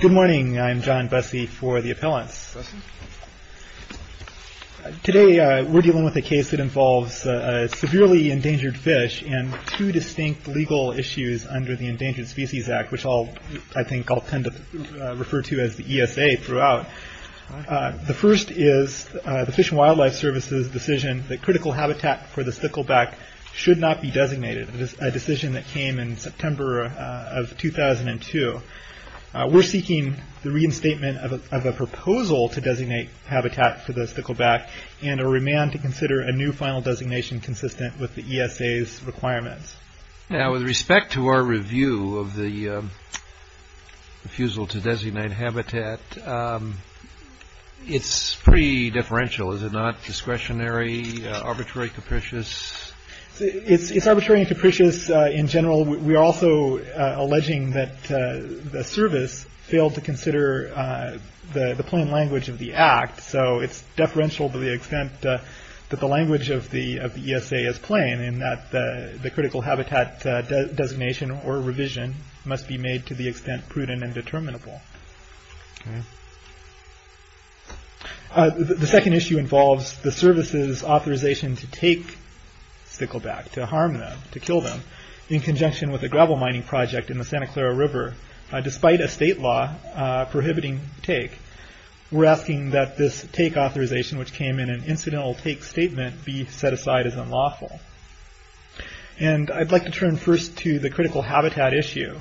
Good morning, I'm John Bussey for the Appellants. Today we're dealing with a case that involves a severely endangered fish and two distinct legal issues under the Endangered Species Act, which I think I'll tend to refer to as the ESA throughout. The first is the Fish and Wildlife Service's decision that critical habitat for the stickleback should not be designated in September of 2002. We're seeking the reinstatement of a proposal to designate habitat for the stickleback and a remand to consider a new final designation consistent with the ESA's requirements. Now, with respect to our review of the refusal to designate habitat, it's pretty differential is it not? Discretionary? Arbitrary? Capricious? It's arbitrary and capricious in general. We're also alleging that the service failed to consider the plain language of the Act, so it's deferential to the extent that the language of the ESA is plain in that the critical habitat designation or revision must be made to the extent prudent and determinable. The second issue involves the service's authorization to take stickleback, to harm them, to kill them, in conjunction with a gravel mining project in the Santa Clara River. Despite a state law prohibiting take, we're asking that this take authorization, which came in an incidental take statement, be set aside as unlawful. I'd like to turn first to the critical habitat issue.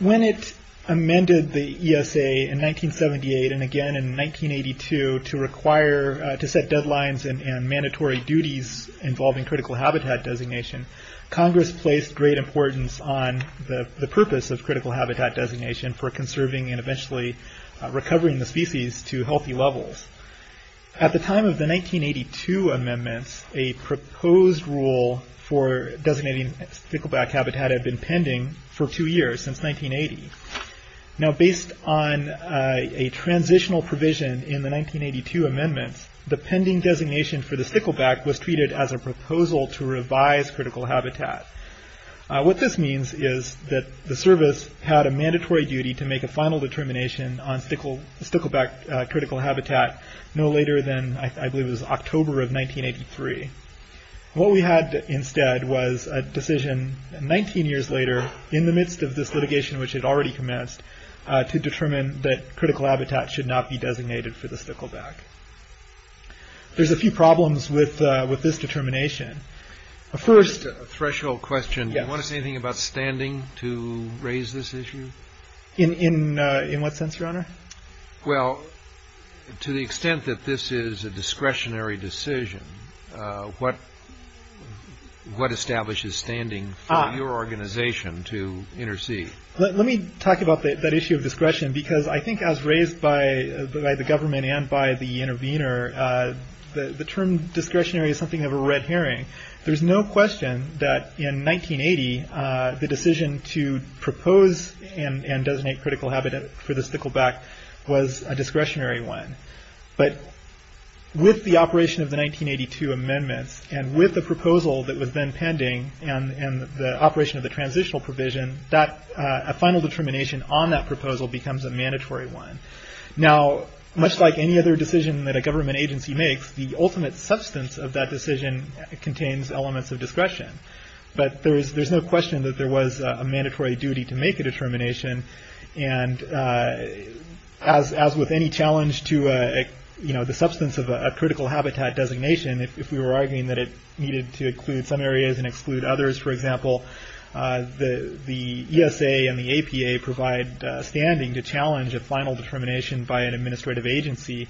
When it amended the ESA in 1978 and again in 1982 to set deadlines and mandatory duties involving critical habitat designation, Congress placed great importance on the purpose of critical habitat designation for conserving and eventually recovering the species to healthy levels. At the time of the 1982 amendments, a proposed rule for designating stickleback habitat had been pending for two years, since 1980. Based on a transitional provision in the 1982 amendments, the pending designation for the stickleback was treated as a proposal to revise critical habitat. What this means is that the service had a mandatory duty to make a final determination on stickleback critical habitat no later than, I believe it was October of 1983. What we had instead was a decision 19 years later, in the midst of this litigation which had already commenced, to determine that critical habitat should not be designated for the stickleback. There's a few problems with this determination. First, a threshold question. Do you want to say anything about standing to raise this issue? In what sense, Your Honor? Well, to the extent that this is a discretionary decision, what establishes standing for your organization to intercede? Let me talk about that issue of discretion, because I think as raised by the government and by the intervener, the term discretionary is something of a red herring. There's no question that in 1980, the decision to propose and designate critical habitat for the stickleback was a discretionary one. With the operation of the 1982 amendments, and with the proposal that was then pending, and the operation of the transitional provision, a final determination on that proposal becomes a mandatory one. Now, much like any other decision that a government agency makes, the ultimate substance of that decision contains elements of discretion. But there's no question that there was a mandatory duty to make a determination. As with any challenge to the substance of a critical habitat designation, if we were arguing that it needed to include some areas and exclude others, for example, the ESA and the APA provide standing to challenge a final determination by an administrative agency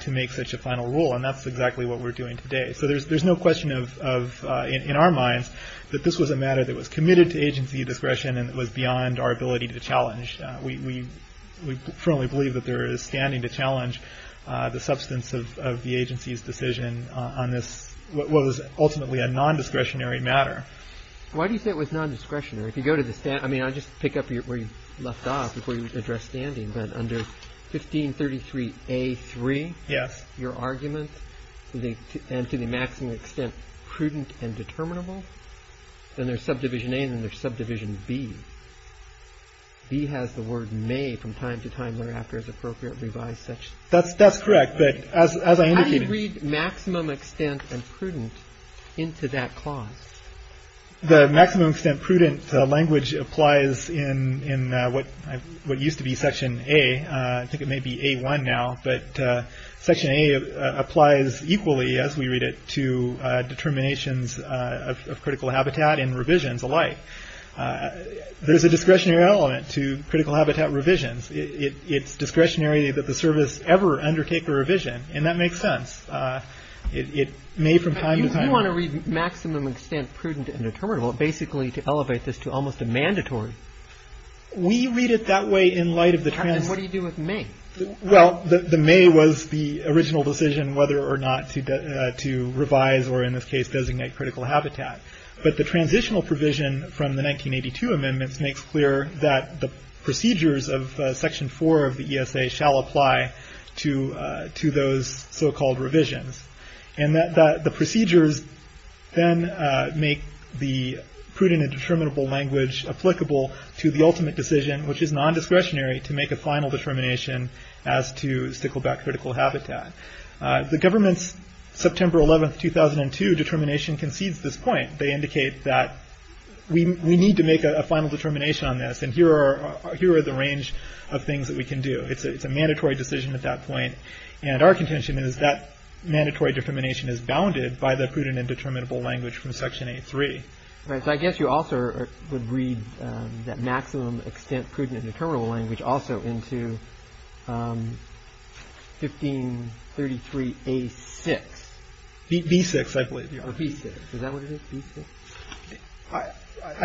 to make such a final rule. And that's exactly what we're doing today. So there's no question in our minds that this was a matter that was committed to agency discretion and it was beyond our ability to challenge. We firmly believe that there is standing to challenge the substance of the agency's decision on this, what was ultimately a non-discretionary matter. Why do you say it was non-discretionary? If you go to the stand, I mean, I'll just pick up where you left off before you address standing, but under 1533A3, your argument, and to the maximum extent prudent and determinable, then there's subdivision A and then there's subdivision B. B has the word may from time to time thereafter as appropriate revised section. That's correct. How do you read maximum extent and prudent into that clause? The maximum extent prudent language applies in what used to be section A. I think it may be A1 now, but section A applies equally as we read it to determinations of critical habitat and revisions alike. There's a discretionary element to critical habitat revisions. It's a subdivision, and that makes sense. It may from time to time... You want to read maximum extent prudent and determinable basically to elevate this to almost a mandatory. We read it that way in light of the... What do you do with may? Well, the may was the original decision whether or not to revise or in this case designate critical habitat, but the transitional provision from the 1982 amendments makes clear that the procedures of section four of the ESA shall apply to those so-called revisions. The procedures then make the prudent and determinable language applicable to the ultimate decision, which is non-discretionary, to make a final determination as to stickleback critical habitat. The government's September 11, 2002 determination concedes this point. They indicate that we need to make a final determination on this, and here are the range of things that we can do. It's a mandatory decision at that point, and our contention is that mandatory determination is bounded by the prudent and determinable language from section A3. All right, so I guess you also would read that maximum extent prudent and determinable language also into 1533A6. B6, I believe. B6. Is that what it is? B6? I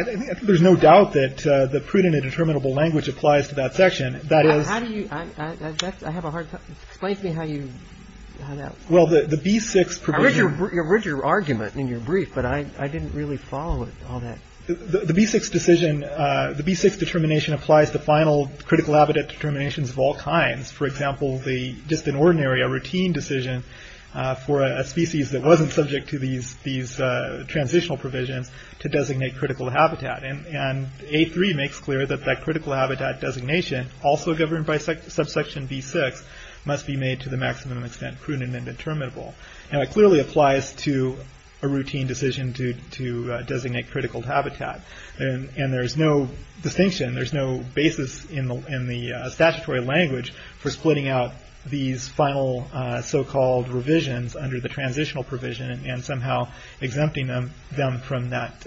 think there's no doubt that the prudent and determinable language applies to that section. That is... How do you... I have a hard time... Explain to me how you... Well, the B6 provision... I read your argument in your brief, but I didn't really follow it, all that. The B6 decision, the B6 determination applies to final critical habitat determinations of all kinds. For example, the just an ordinary, a routine decision for a species that wasn't subject to these transitional provisions to designate critical habitat. And A3 makes clear that that critical habitat designation, also governed by subsection B6, must be made to the maximum extent prudent and determinable. And it clearly applies to a routine decision to designate critical habitat. And there's no distinction, there's no basis in the statutory language for splitting out these final so-called revisions under the transitional provision and somehow exempting them from that.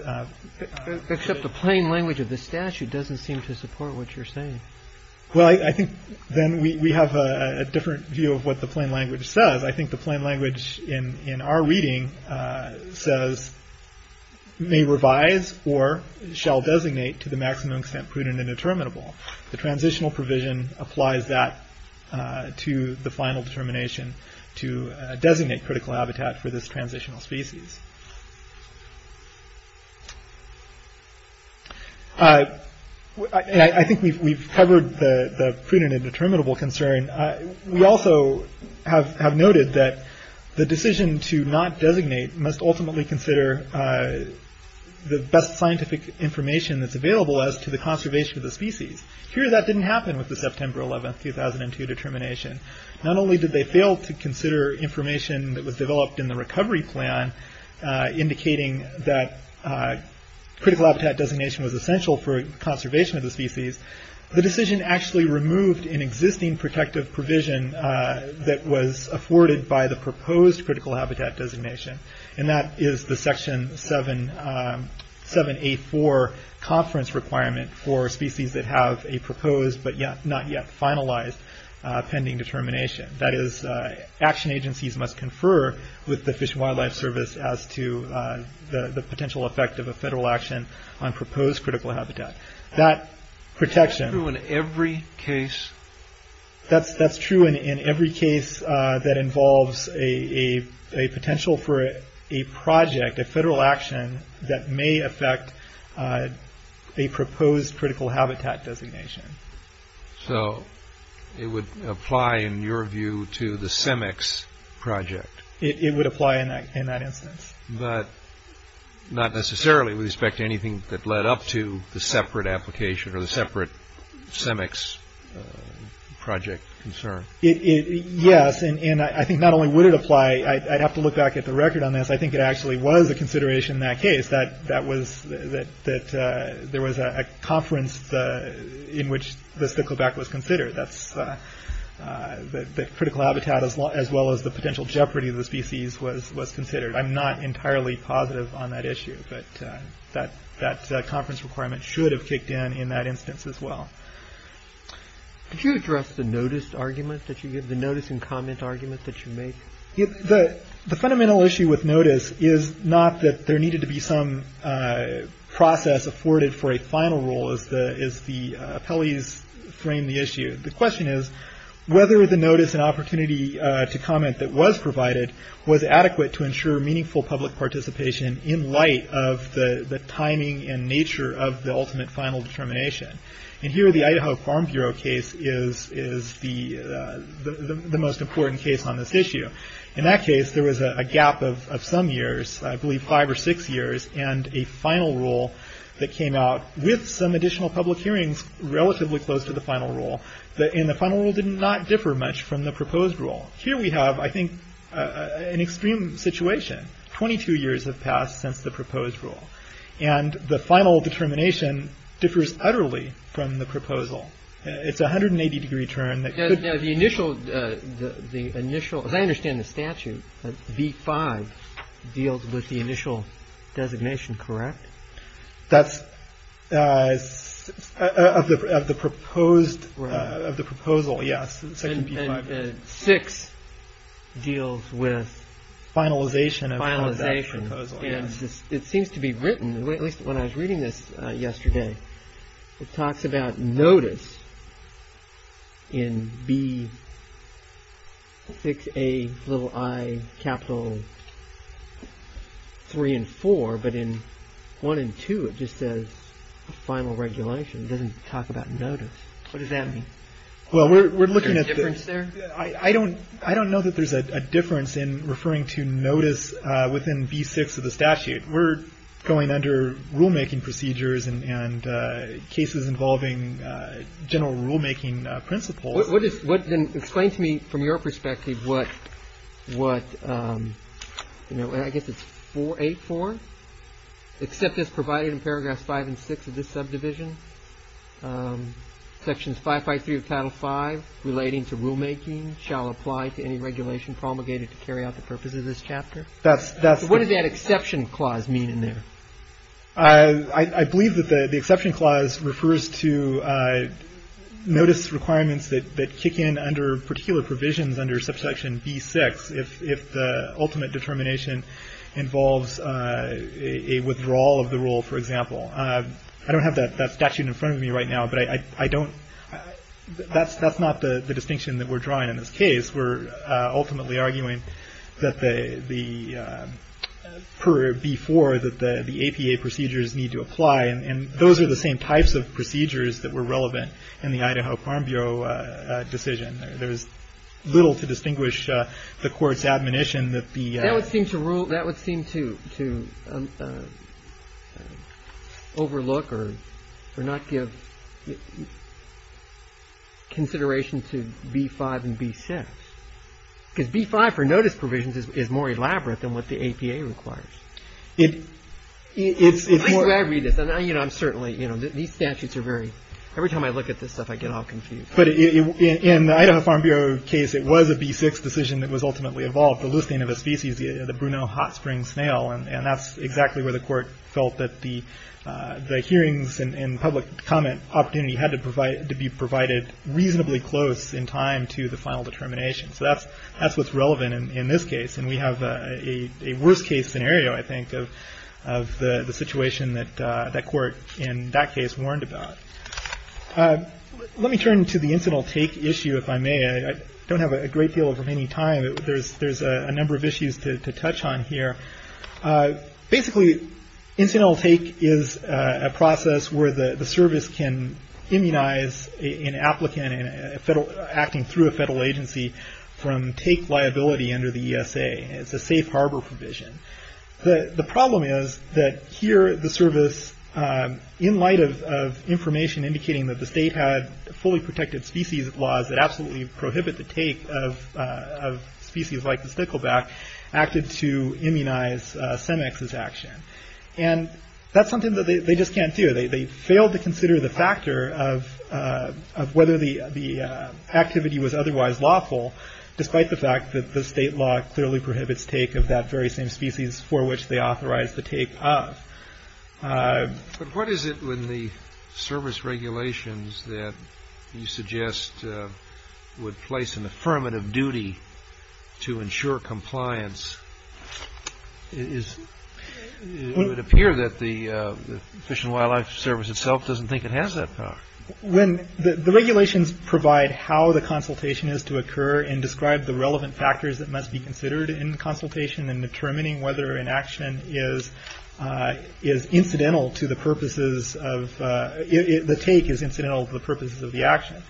Except the plain language of the statute doesn't seem to support what you're saying. Well, I think then we have a different view of what the plain language says. I think the plain language in our reading says, may revise or shall designate to the maximum extent prudent and determinable. The transitional provision applies that to the final determination to designate critical habitat for this transitional species. I think we've covered the prudent and determinable concern. We also have noted that the decision to not designate must ultimately consider the best scientific information that's available as to the conservation of the species. Here that didn't happen with the September 11, 2002 determination. Not only did they fail to consider information that was developed in the recovery plan indicating that critical habitat designation was essential for conservation of the species, the decision actually removed an existing protective provision that was afforded by the proposed critical habitat designation. That is the section 7.8.4 conference requirement for species that have a proposed but not yet finalized pending determination. That is, action agencies must confer with the Fish and Wildlife Service as to the potential effect of a federal action on proposed critical habitat. That protection... Is that true in every case? That's true in every case that involves a potential for a project, a federal action, that may affect a proposed critical habitat designation. So it would apply, in your view, to the CEMEX project? It would apply in that instance. But not necessarily with respect to anything that led up to the separate application or the separate CEMEX project concern. Yes, and I think not only would it apply, I'd have to look back at the record on this, I think it actually was a consideration in that case that there was a conference in which the stickleback was considered. The critical habitat as well as the potential jeopardy of the species was considered. I'm not entirely positive on that issue, but that conference requirement should have kicked in in that instance as well. Did you address the notice argument that you gave, the notice and comment argument that you made? The fundamental issue with notice is not that there needed to be some process afforded for a final rule, as the appellees framed the issue. The question is whether the notice and opportunity to comment that was provided was adequate to ensure meaningful public participation in light of the timing and nature of the ultimate final determination. And here the Idaho Farm Bureau case is the most important case on this issue. In that case, there was a gap of some years, I believe five or six years, and a final rule that came out with some additional public hearings relatively close to the final rule. And the final rule did not differ much from the proposed rule. Here we have, I think, an extreme situation. Twenty-two years have passed since the proposed rule. And the final determination differs utterly from the proposal. It's a 180 degree turn that could... Now the initial, as I understand the statute, V5 deals with the initial designation, correct? That's of the proposed, of the proposal, yes. And V6 deals with... Finalization of that proposal. And it seems to be written, at least when I was reading this yesterday, it talks about notice in B6A i capital 3 and 4, but in 1 and 2 it just says final regulation. It doesn't talk about notice. What does that mean? Well, we're looking at... Is there a difference there? I don't know that there's a difference in referring to notice within B6 of the statute. We're going under rulemaking procedures and cases involving general rulemaking principles. Explain to me, from your perspective, what, I guess it's 8-4? Except as provided in paragraphs 5 and 6 of this subdivision, sections 553 of title 5 relating to rulemaking shall apply to any regulation promulgated to carry out the purpose of this chapter. What does that exception clause mean in there? I believe that the exception clause refers to notice requirements that kick in under particular provisions under subsection B6 if the ultimate determination involves a withdrawal of the rule, for example. I don't have that statute in front of me right now, but that's not the distinction that we're drawing in this case. We're ultimately arguing that per B4 that the APA procedures need to apply, and those are the same types of procedures that were relevant in the Idaho Farm Bureau decision. There's little to distinguish the court's admonition that the... ...overlook or not give consideration to B5 and B6. Because B5 for notice provisions is more elaborate than what the APA requires. At least when I read this, I'm certainly... These statutes are very... Every time I look at this stuff, I get all confused. In the Idaho Farm Bureau case, it was a B6 decision that was ultimately evolved. The leucine of a species, the Bruneau hot spring snail, and that's exactly where the court felt that the hearings and public comment opportunity had to be provided reasonably close in time to the final determination. That's what's relevant in this case, and we have a worst case scenario, I think, of the situation that court in that case warned about. Let me turn to the incidental take issue, if I may. I don't have a great deal of remaining time. There's a number of issues to touch on here. Basically, incidental take is a process where the service can immunize an applicant acting through a federal agency from take liability under the ESA. It's a safe harbor provision. The problem is that here, the service, in light of information indicating that the state had fully protected species laws that absolutely prohibit the take of species like the stickleback, acted to immunize CEMEX's action. That's something that they just can't do. They failed to consider the factor of whether the activity was otherwise lawful, despite the fact that the state law clearly prohibits take of that very same species for which they authorized the take of. But what is it when the service regulations that you suggest would place an affirmative duty to ensure compliance? It would appear that the Fish and Wildlife Service itself doesn't think it has that power. The regulations provide how the consultation is to occur and describe the relevant factors that must be considered in consultation in determining whether an action is incidental to the purposes of, the take is incidental to the purposes of the action.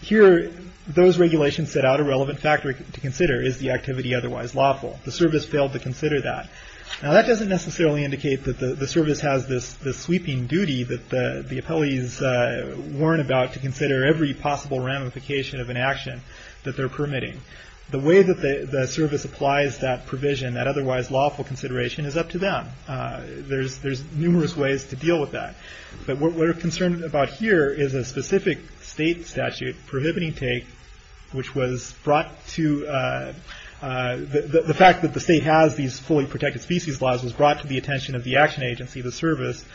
Here, those regulations set out a relevant factor to consider. Is the activity otherwise lawful? The service failed to consider that. That doesn't necessarily indicate that the service has this sweeping duty that the appellees weren't about to consider every possible ramification of an action that they're permitting. The way that the service applies that provision, that otherwise lawful consideration, is up to them. There's numerous ways to deal with that. But what we're concerned about here is a specific state statute prohibiting take, which was brought to, the fact that the state has these fully protected species laws was brought to the attention of the action agency, the service,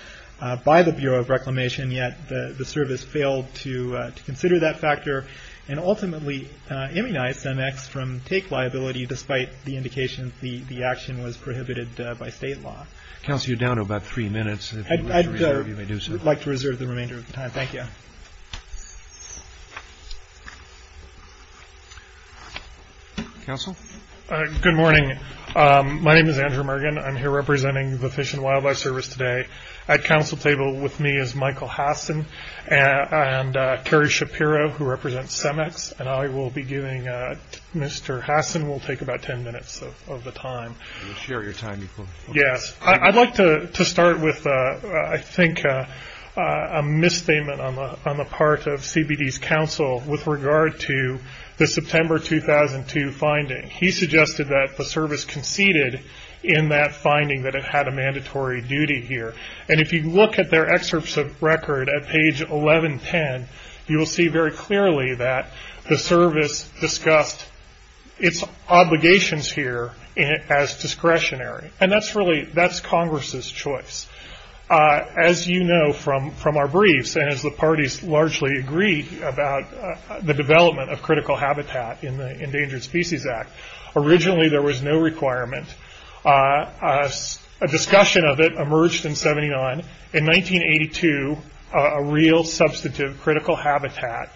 yet the service failed to consider that factor and ultimately immunized NX from take liability despite the indication the action was prohibited by state law. Council, you're down to about three minutes. I'd like to reserve the remainder of the time. Thank you. Council? Good morning. My name is Andrew Mergen. I'm here representing the Fish and Wildlife Service today. At council table with me is Michael Hassen and Kerry Shapiro who represents CEMEX. And I will be giving, Mr. Hassen will take about ten minutes of the time. You can share your time if you want. Yes. I'd like to start with, I think, a misstatement on the part of CBD's council with regard to the September 2002 finding. He suggested that the service conceded in that finding that it had a mandatory duty here. And if you look at their excerpts of record at page 1110, you will see very clearly that the service discussed its obligations here as discretionary. And that's Congress' choice. As you know from our briefs, and as the parties largely agree about the development of critical habitat in the Endangered Species Act, originally there was no requirement. A discussion of it emerged in 79. In 1982, a real substantive critical habitat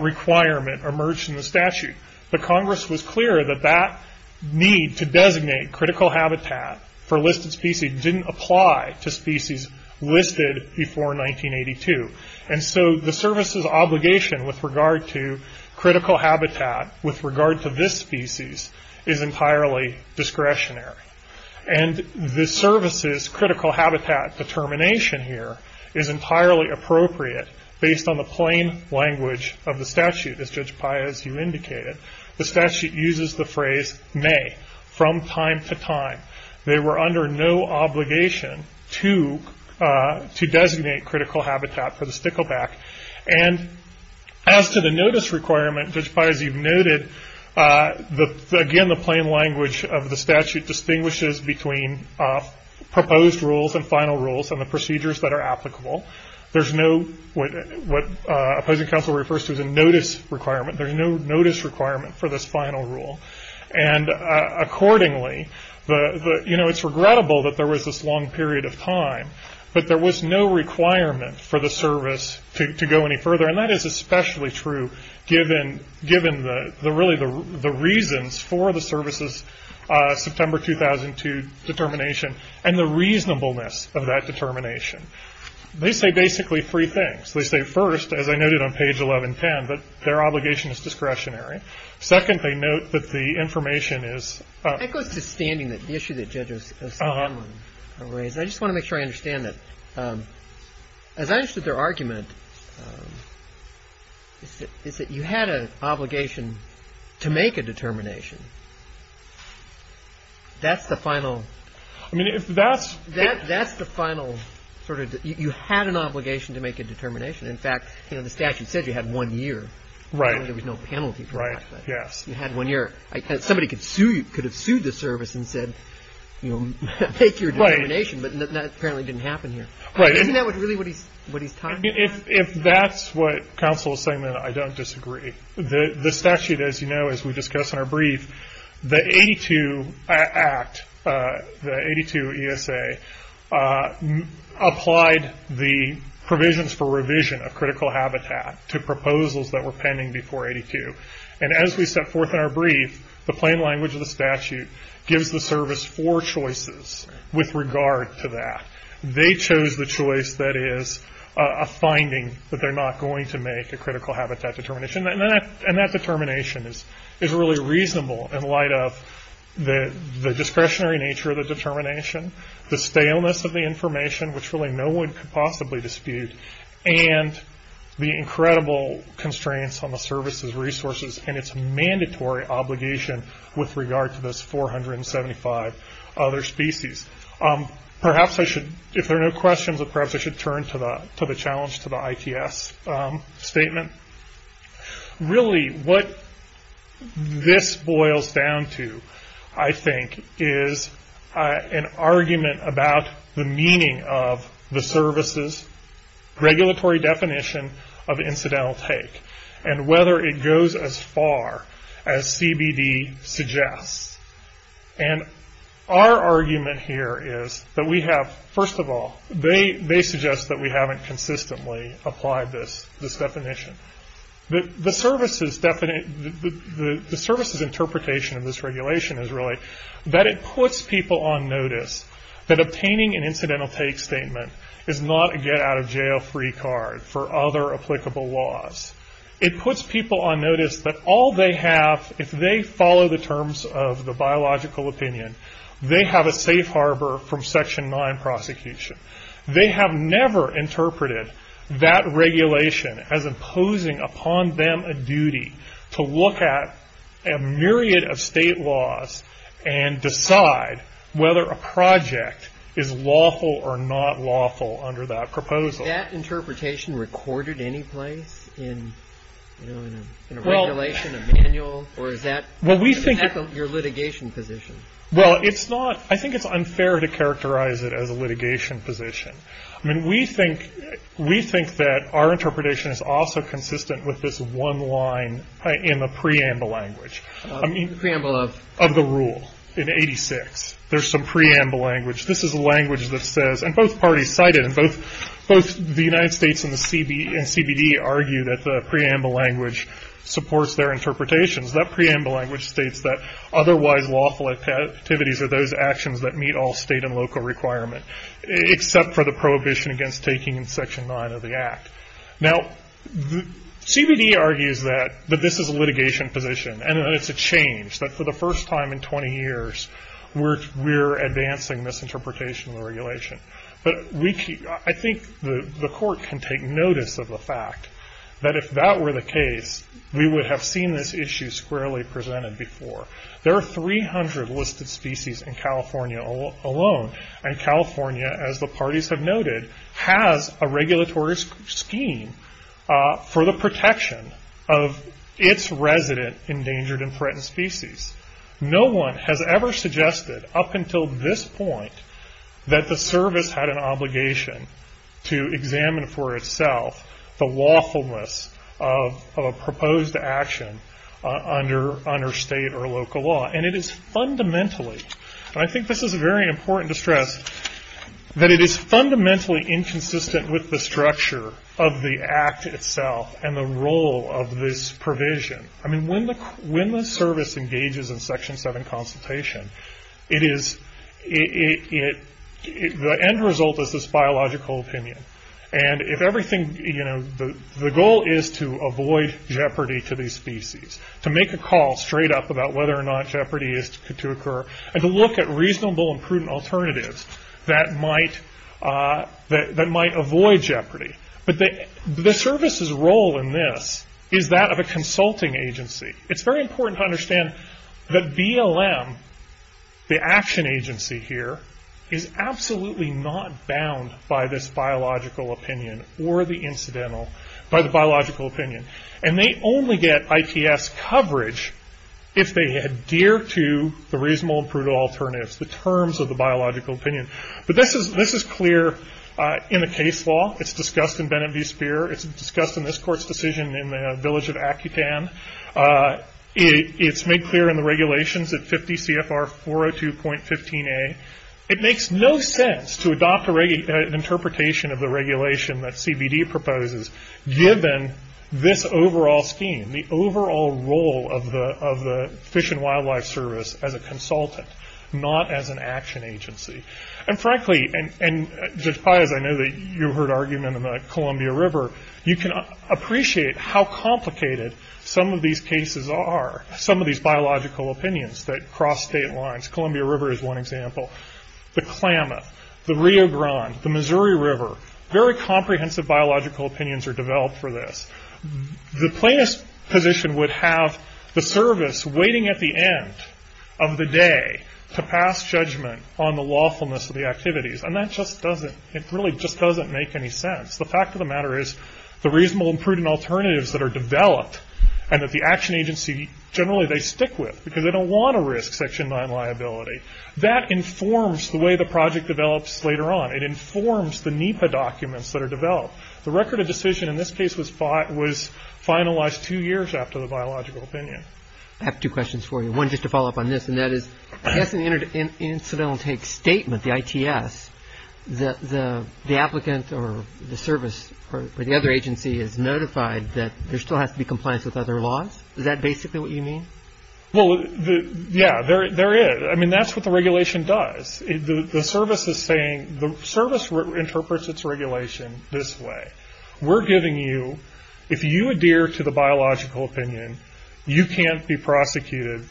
requirement emerged in the statute. But Congress was clear that that need to designate critical habitat for listed species didn't apply to species listed before 1982. And so the service's obligation with regard to critical habitat, with regard to this species, is entirely discretionary. And the service's critical habitat determination here is entirely appropriate based on the plain language of the statute, as Judge Paya, as you indicated. The statute uses the phrase, may, from time to time. They were under no obligation to designate critical habitat for the stickleback. And as to the notice requirement, Judge Paya, as you've noted, again the plain language of the statute distinguishes between proposed rules and final rules and the procedures that are applicable. There's no, what opposing counsel refers to as a notice requirement, there's no notice requirement for this final rule. And accordingly, it's regrettable that there was this long period of time, but there was no requirement for the service to go any further. And that is especially true given really the reasons for the service's September 2002 determination and the reasonableness of that determination. They say basically three things. They say first, as I noted on page 1110, that their obligation is discretionary. Second, they note that the information is... That goes to standing, the issue that Judge O'Sullivan raised. And I just want to make sure I understand that. As I understood their argument, is that you had an obligation to make a determination. That's the final... I mean, if that's... That's the final sort of, you had an obligation to make a determination. In fact, you know, the statute said you had one year. Right. There was no penalty for that. Right, yes. You had one year. Somebody could sue, could have sued the service and said, you know, make your determination. But that apparently didn't happen here. Right. Isn't that really what he's talking about? If that's what counsel is saying, then I don't disagree. The statute, as you know, as we discussed in our brief, the 82 Act, the 82 ESA, applied the provisions for revision of critical habitat to proposals that were pending before 82. The statute gives the service four choices with regard to that. They chose the choice that is a finding that they're not going to make, a critical habitat determination. And that determination is really reasonable in light of the discretionary nature of the determination, the staleness of the information, which really no one could possibly dispute, and the incredible constraints on the service's resources and its mandatory obligation with regard to those 475 other species. Perhaps I should, if there are no questions, perhaps I should turn to the challenge, to the ITS statement. Really what this boils down to, I think, is an argument about the meaning of the services, regulatory definition of incidental take, and whether it goes as far as CBD suggests. And our argument here is that we have, first of all, they suggest that we haven't consistently applied this definition. The services interpretation of this regulation is really that it puts people on notice that obtaining an incidental take statement is not a get-out-of-jail-free card for other applicable laws. It puts people on notice that all they have, if they follow the terms of the biological opinion, they have a safe harbor from Section 9 prosecution. They have never interpreted that regulation as imposing upon them a duty to look at a myriad of state laws and decide whether a project is lawful or not lawful under that proposal. Is that interpretation recorded any place in a regulation, a manual, or is that your litigation position? I think it's unfair to characterize it as a litigation position. We think that our interpretation is also consistent with this one line in the preamble language. The preamble of? Of the rule in 86. There's some preamble language. This is a language that says, and both parties cite it, and both the United States and CBD argue that the preamble language supports their interpretations. That preamble language states that otherwise lawful activities are those actions that meet all state and local requirements, except for the prohibition against taking in Section 9 of the Act. Now, CBD argues that this is a litigation position, and that it's a change, that for the first time in 20 years, we're advancing this interpretation of the regulation. I think the court can take notice of the fact that if that were the case, we would have seen this issue squarely presented before. There are 300 listed species in California alone, and California, as the parties have noted, has a regulatory scheme for the protection of its resident endangered and threatened species. No one has ever suggested, up until this point, that the service had an obligation to examine for itself the lawfulness of a proposed action under state or local law. It is fundamentally, and I think this is very important to stress, that it is fundamentally inconsistent with the structure of the Act itself, and the role of this provision. When the service engages in Section 7 consultation, the end result is this biological opinion. The goal is to avoid jeopardy to these species, to make a call straight up about whether or not jeopardy is to occur, and to look at reasonable and prudent alternatives that might avoid jeopardy. The service's role in this is that of a consulting agency. It's very important to understand that BLM, the action agency here, is absolutely not bound by this biological opinion, or the incidental, by the biological opinion. And they only get ITS coverage if they adhere to the reasonable and prudent alternatives, the terms of the biological opinion. But this is clear in the case law. It's discussed in Bennett v. Speer. It's discussed in this court's decision in the village of Akutan. It's made clear in the regulations at 50 CFR 402.15a. It makes no sense to adopt an interpretation of the regulation that CBD proposes, given this overall scheme, the overall role of the Fish and Wildlife Service as a consultant, not as an action agency. And frankly, and Judge Pais, I know that you heard argument in the Columbia River, you can appreciate how complicated some of these cases are, some of these biological opinions that cross state lines. Columbia River is one example. The Klamath, the Rio Grande, the Missouri River, very comprehensive biological opinions are developed for this. The plaintiff's position would have the service waiting at the end of the day to pass judgment on the lawfulness of the activities. And that just doesn't, it really just doesn't make any sense. The fact of the matter is, the reasonable and prudent alternatives that are developed, and that the action agency, generally they stick with, because they don't want to risk Section 9 liability. That informs the way the project develops later on. It informs the NEPA documents that are developed. The record of decision in this case was finalized two years after the biological opinion. I have two questions for you. One, just to follow up on this, and that is, I guess an incidental take statement, the ITS, the applicant or the service or the other agency is notified that there still has to be compliance with other laws? Is that basically what you mean? Well, yeah, there is. I mean, that's what the regulation does. The service is saying, the service interprets its regulation this way. We're giving you, if you adhere to the biological opinion, you can't be prosecuted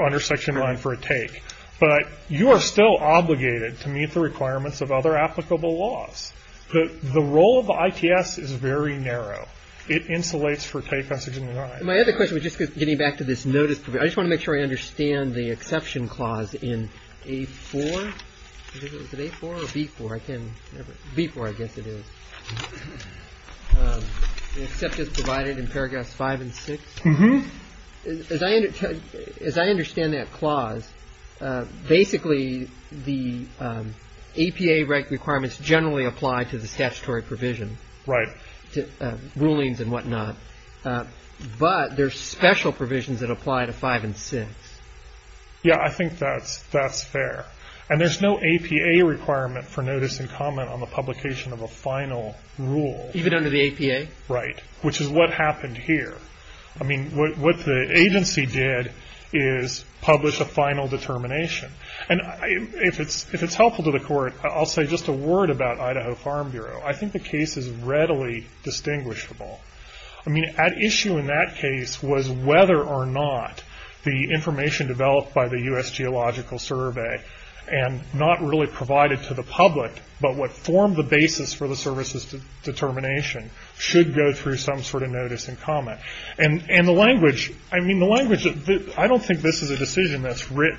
under Section 9 for a take. But you are still obligated to meet the requirements of other applicable laws. The role of the ITS is very narrow. It insulates for take on Section 9. My other question, just getting back to this notice, I just want to make sure I understand the exception clause in A-4. Is it A-4 or B-4? I can't remember. B-4, I guess it is. The except is provided in paragraphs 5 and 6. As I understand that clause, basically, the APA requirements generally apply to the statutory provision. Right. To rulings and whatnot. But there's special provisions that apply to 5 and 6. Yeah, I think that's fair. And there's no APA requirement for notice and comment on the publication of a final rule. Even under the APA? Right. Which is what happened here. I mean, what the agency did is publish a final determination. And if it's helpful to the Court, I'll say just a word about Idaho Farm Bureau. I think the case is readily distinguishable. I mean, at issue in that case was whether or not the information developed by the U.S. Geological Survey and not really provided to the public, but what formed the basis for the service's determination, should go through some sort of notice and comment. And the language, I mean, the language, I don't think this is a decision that's writ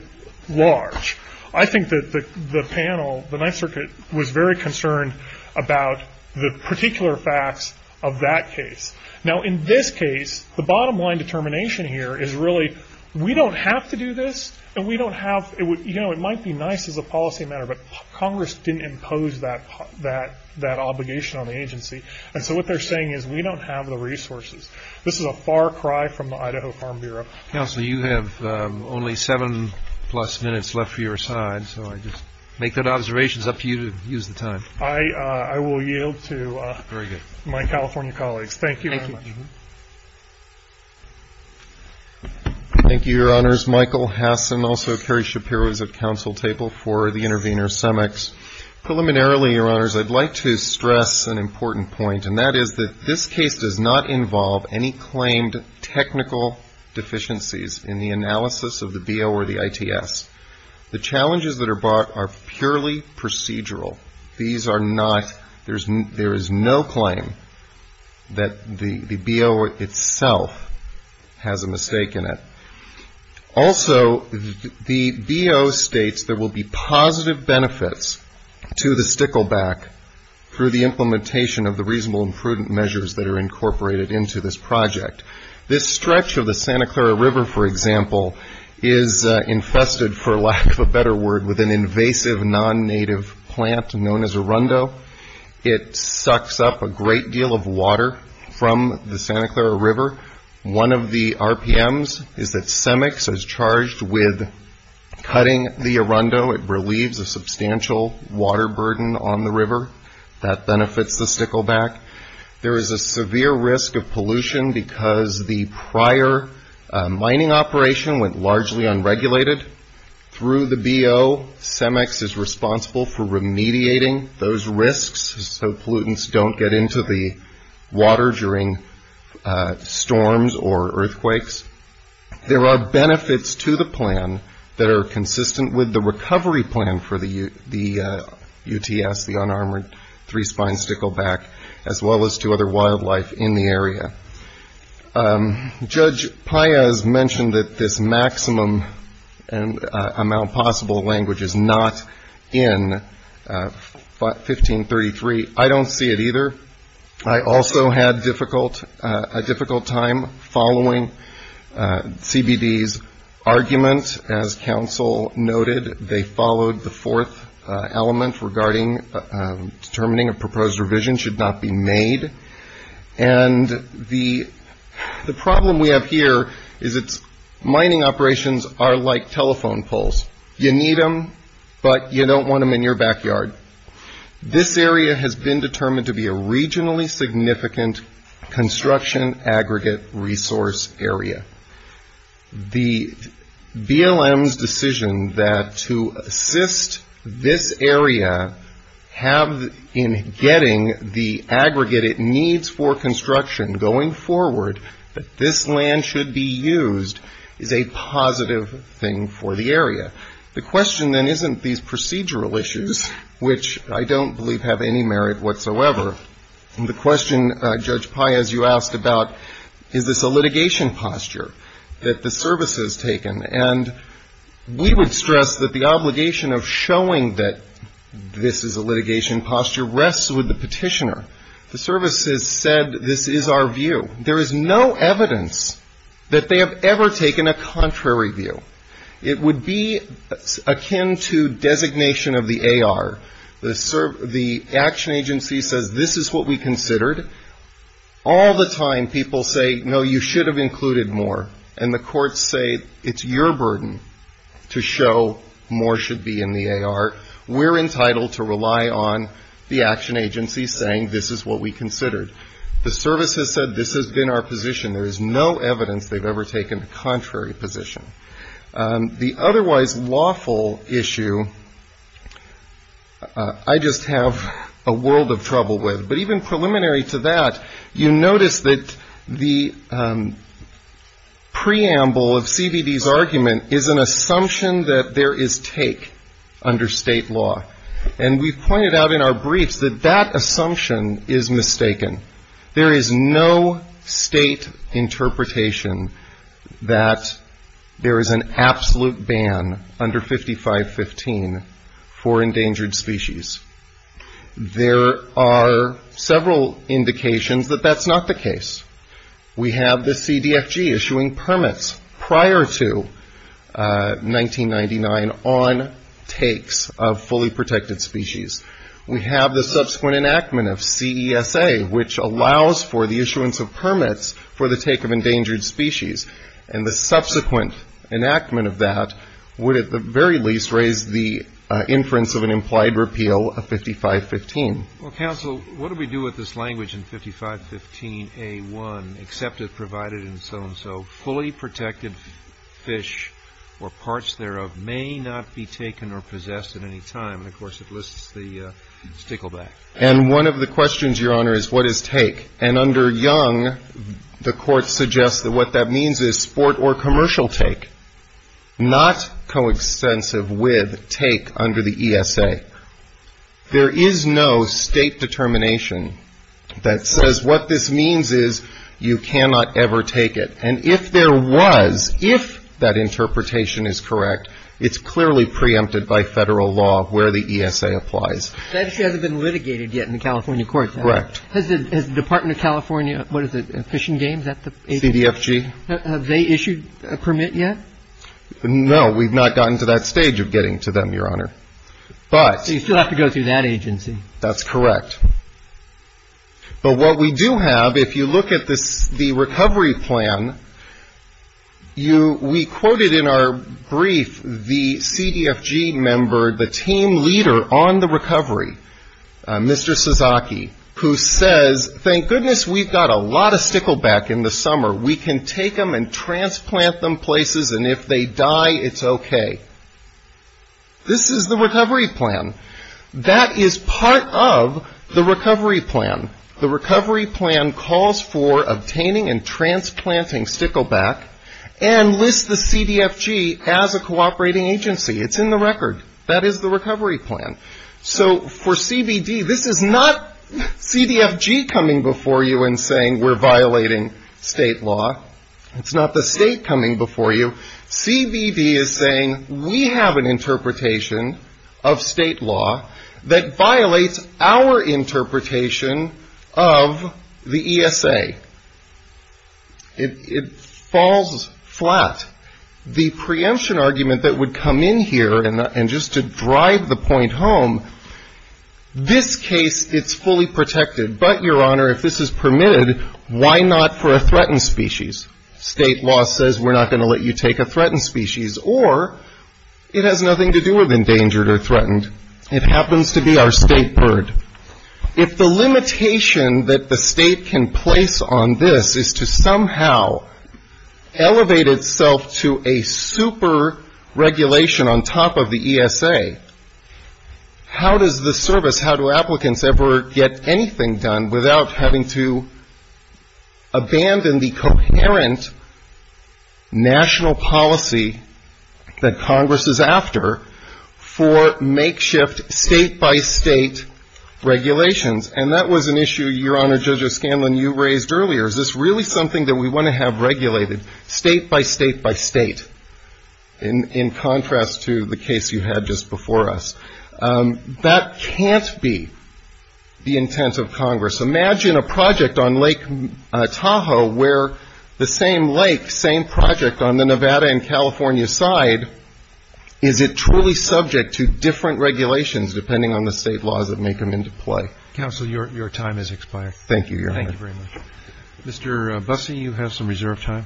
large. I think that the panel, the Ninth Circuit, was very concerned about the particular facts of that case. Now, in this case, the bottom line determination here is really, we don't have to do this, and we don't have, it might be nice as a policy matter, but Congress didn't impose that obligation on the agency. And so what they're saying is we don't have the resources. This is a far cry from the Idaho Farm Bureau. Counselor, you have only seven plus minutes left for your side. And so I just make that observation. It's up to you to use the time. I will yield to my California colleagues. Thank you very much. Thank you, Your Honors. Michael Hess and also Kerry Shapiro is at counsel table for the intervener, Semex. Preliminarily, Your Honors, I'd like to stress an important point, and that is that this case does not involve any claimed technical deficiencies in the analysis of the BO or the ITS. The challenges that are brought are purely procedural. These are not, there is no claim that the BO itself has a mistake in it. Also, the BO states there will be positive benefits to the stickleback through the implementation of the reasonable and prudent measures that are incorporated into this project. This stretch of the Santa Clara River, for example, is infested, for lack of a better word, with an invasive non-native plant known as Arundo. It sucks up a great deal of water from the Santa Clara River. One of the RPMs is that Semex is charged with cutting the Arundo. It relieves a substantial water burden on the river. That benefits the stickleback. There is a severe risk of pollution because the prior mining operation went largely unregulated. Through the BO, Semex is responsible for remediating those risks so pollutants don't get into the water during storms or earthquakes. There are benefits to the plan that are consistent with the recovery plan for the UTS, the unarmored three-spine stickleback, as well as to other wildlife in the area. Judge Paez mentioned that this maximum amount of possible language is not in 1533. I don't see it either. I also had a difficult time following CBD's argument. As counsel noted, they followed the fourth element regarding determining a proposed revision should not be made. The problem we have here is that mining operations are like telephone poles. You need them, but you don't want them in your backyard. This area has been determined to be a regionally significant construction aggregate resource area. The BLM's decision to assist this area in getting the aggregate it needs for construction going forward, that this land should be used, is a positive thing for the area. The question then isn't these procedural issues, which I don't believe have any merit whatsoever. The question Judge Paez, you asked about, is this a litigation posture that the service has taken? We would stress that the obligation of showing that this is a litigation posture rests with the petitioner. The service has said this is our view. There is no evidence that they have ever taken a contrary view. It would be akin to designation of the AR. The action agency says this is what we considered. All the time people say, no, you should have included more, and the courts say it's your burden to show more should be in the AR. We're entitled to rely on the action agency saying this is what we considered. The service has said this has been our position. There is no evidence they've ever taken a contrary position. The otherwise lawful issue, I just have a world of trouble with, but even preliminary to that, you notice that the preamble of CBD's argument is an assumption that there is take under state law. We've pointed out in our briefs that that assumption is mistaken. There is no state interpretation that there is an absolute ban under 5515 for endangered species. There are several indications that that's not the case. We have the CDFG issuing permits prior to 1999 on takes of fully protected species. We have the subsequent enactment of CESA, which allows for the issuance of permits for the take of endangered species. The subsequent enactment of that would at the very least raise the inference of an implied repeal of 5515. Counsel, what do we do with this language in 5515A1, except it's provided in so-and-so. Fully protected fish or parts thereof may not be taken or possessed at any time. And, of course, it lists the stickleback. And one of the questions, Your Honor, is what is take? And under Young, the Court suggests that what that means is sport or commercial take, not coextensive with take under the ESA. There is no state determination that says what this means is you cannot ever take it. And if there was, if that interpretation is correct, it's clearly preempted by federal law where the ESA applies. That issue hasn't been litigated yet in the California courts, has it? Correct. Has the Department of California, what is it, Fish and Game, is that the agency? CDFG. Have they issued a permit yet? No, we've not gotten to that stage of getting to them, Your Honor. But... So you still have to go through that agency. That's correct. But what we do have, if you look at the recovery plan, we quoted in our brief the CDFG member, the team leader on the recovery, Mr. Suzuki, who says, thank goodness we've got a lot of stickleback in the summer. We can take them and transplant them places and if they die, it's okay. This is the recovery plan. That is part of the recovery plan. The recovery plan calls for obtaining and transplanting stickleback and lists the CDFG as a cooperating agency. It's in the record. That is the recovery plan. So for CBD, this is not CDFG coming before you and saying we're violating state law. It's not the state coming before you. CBD is saying we have an interpretation of state law that violates our interpretation of the ESA. It falls flat. The preemption argument that would come in here, and just to drive the point home, this case, it's fully protected. But, Your Honor, if this is permitted, why not for a threatened species? State law says we're not going to let you take a threatened species or it has nothing to do with endangered or threatened. It happens to be our state bird. If the limitation that the state can place on this is to somehow elevate itself to a super regulation on top of the ESA, how does the service, how do applicants ever get anything done without having to abandon the coherent national policy that Congress is after for makeshift state-by-state regulations? And that was an issue, Your Honor, Judge O'Scanlan, you raised earlier. Is this really something that we want to have regulated state-by-state-by-state in contrast to the case you had just before us? That can't be the intent of Congress. Imagine a project on Lake Tahoe where the same lake, same project on the Nevada and California side, is it truly subject to different regulations depending on the state laws that make them into play? Counsel, your time has expired. Thank you, Your Honor. Thank you very much. Mr. Busse, you have some reserve time.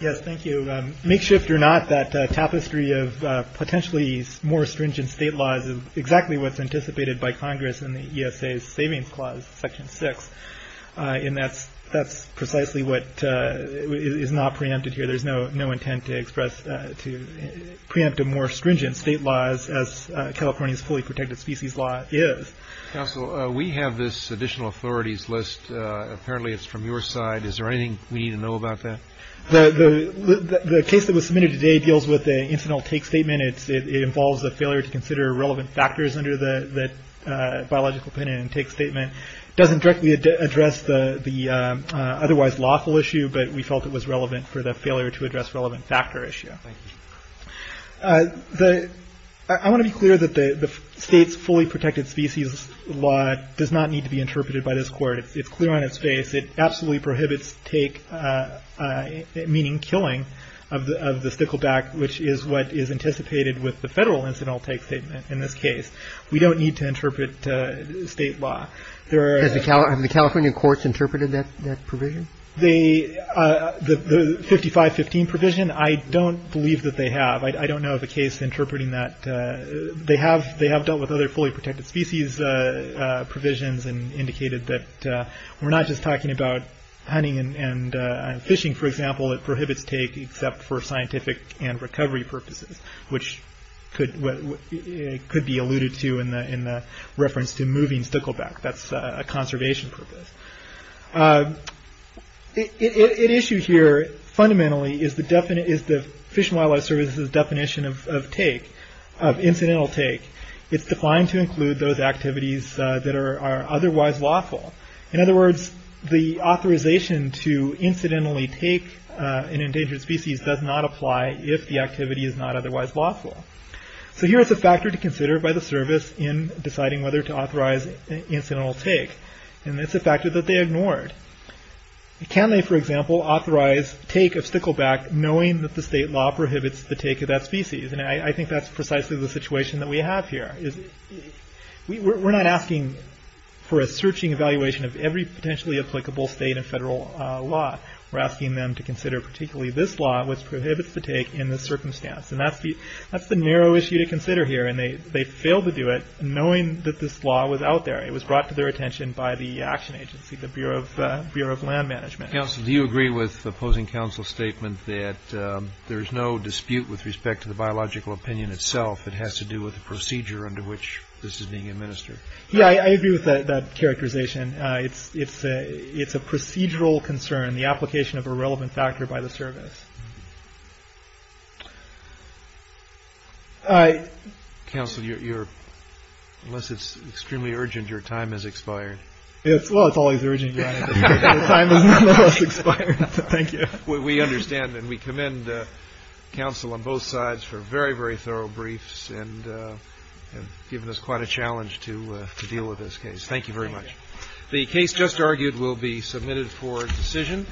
Yes, thank you. Makeshift or not, that tapestry of potentially more stringent state laws is exactly what's anticipated by Congress in the ESA's Savings Clause, Section 6. And that's precisely what is not preempted here. There's no intent to express, to preempt a more stringent state laws as California's fully protected species law is. Counsel, we have this additional authorities list. Apparently it's from your side. Is there anything we need to know about that? The case that was submitted today deals with an incidental take statement. It involves a failure to consider relevant factors under the biological opinion and take statement. It doesn't directly address the otherwise lawful issue, but we felt it was relevant for the failure to address relevant factor issue. Thank you. I want to be clear that the state's fully protected species law does not need to be interpreted by this Court. It's clear on its face. It absolutely prohibits take, meaning killing of the stickleback, which is what is anticipated with the federal incidental take statement in this case. We don't need to interpret state law. Have the California courts interpreted that provision? The 5515 provision, I don't believe that they have. I don't know of a case interpreting that. They have dealt with other fully protected species provisions and indicated that we're not just talking about hunting and fishing, for example. It prohibits take except for scientific and recovery purposes, which could be alluded to in the reference to moving stickleback. That's a conservation purpose. At issue here, fundamentally, is the Fish and Wildlife Service's definition of take, of incidental take. It's defying to include those activities that are otherwise lawful. In other words, the authorization to incidentally take an endangered species does not apply if the activity is not otherwise lawful. Here is a factor to consider by the Service in deciding whether to authorize incidental take. It's a factor that they ignored. Can they, for example, authorize take of stickleback knowing that the state law prohibits the take of that species? I think that's precisely the situation that we have here. We're not asking for a searching evaluation of every potentially applicable state and federal law. We're asking them to consider particularly this law, which prohibits the take in this circumstance. That's the narrow issue to consider here. They failed to do it knowing that this law was out there. It was brought to their attention by the Action Agency, the Bureau of Land Management. Do you agree with the opposing counsel's statement that there's no dispute with respect to the biological opinion itself? It has to do with the procedure under which this is being administered. Yeah, I agree with that characterization. It's a procedural concern, the application of a relevant factor by the Service. Counsel, unless it's extremely urgent, your time has expired. Well, it's always urgent, Your Honor, but your time has nonetheless expired. Thank you. We understand and we commend counsel on both sides for very, very thorough briefs and giving us quite a challenge to deal with this case. Thank you very much. The case just argued will be submitted for decision.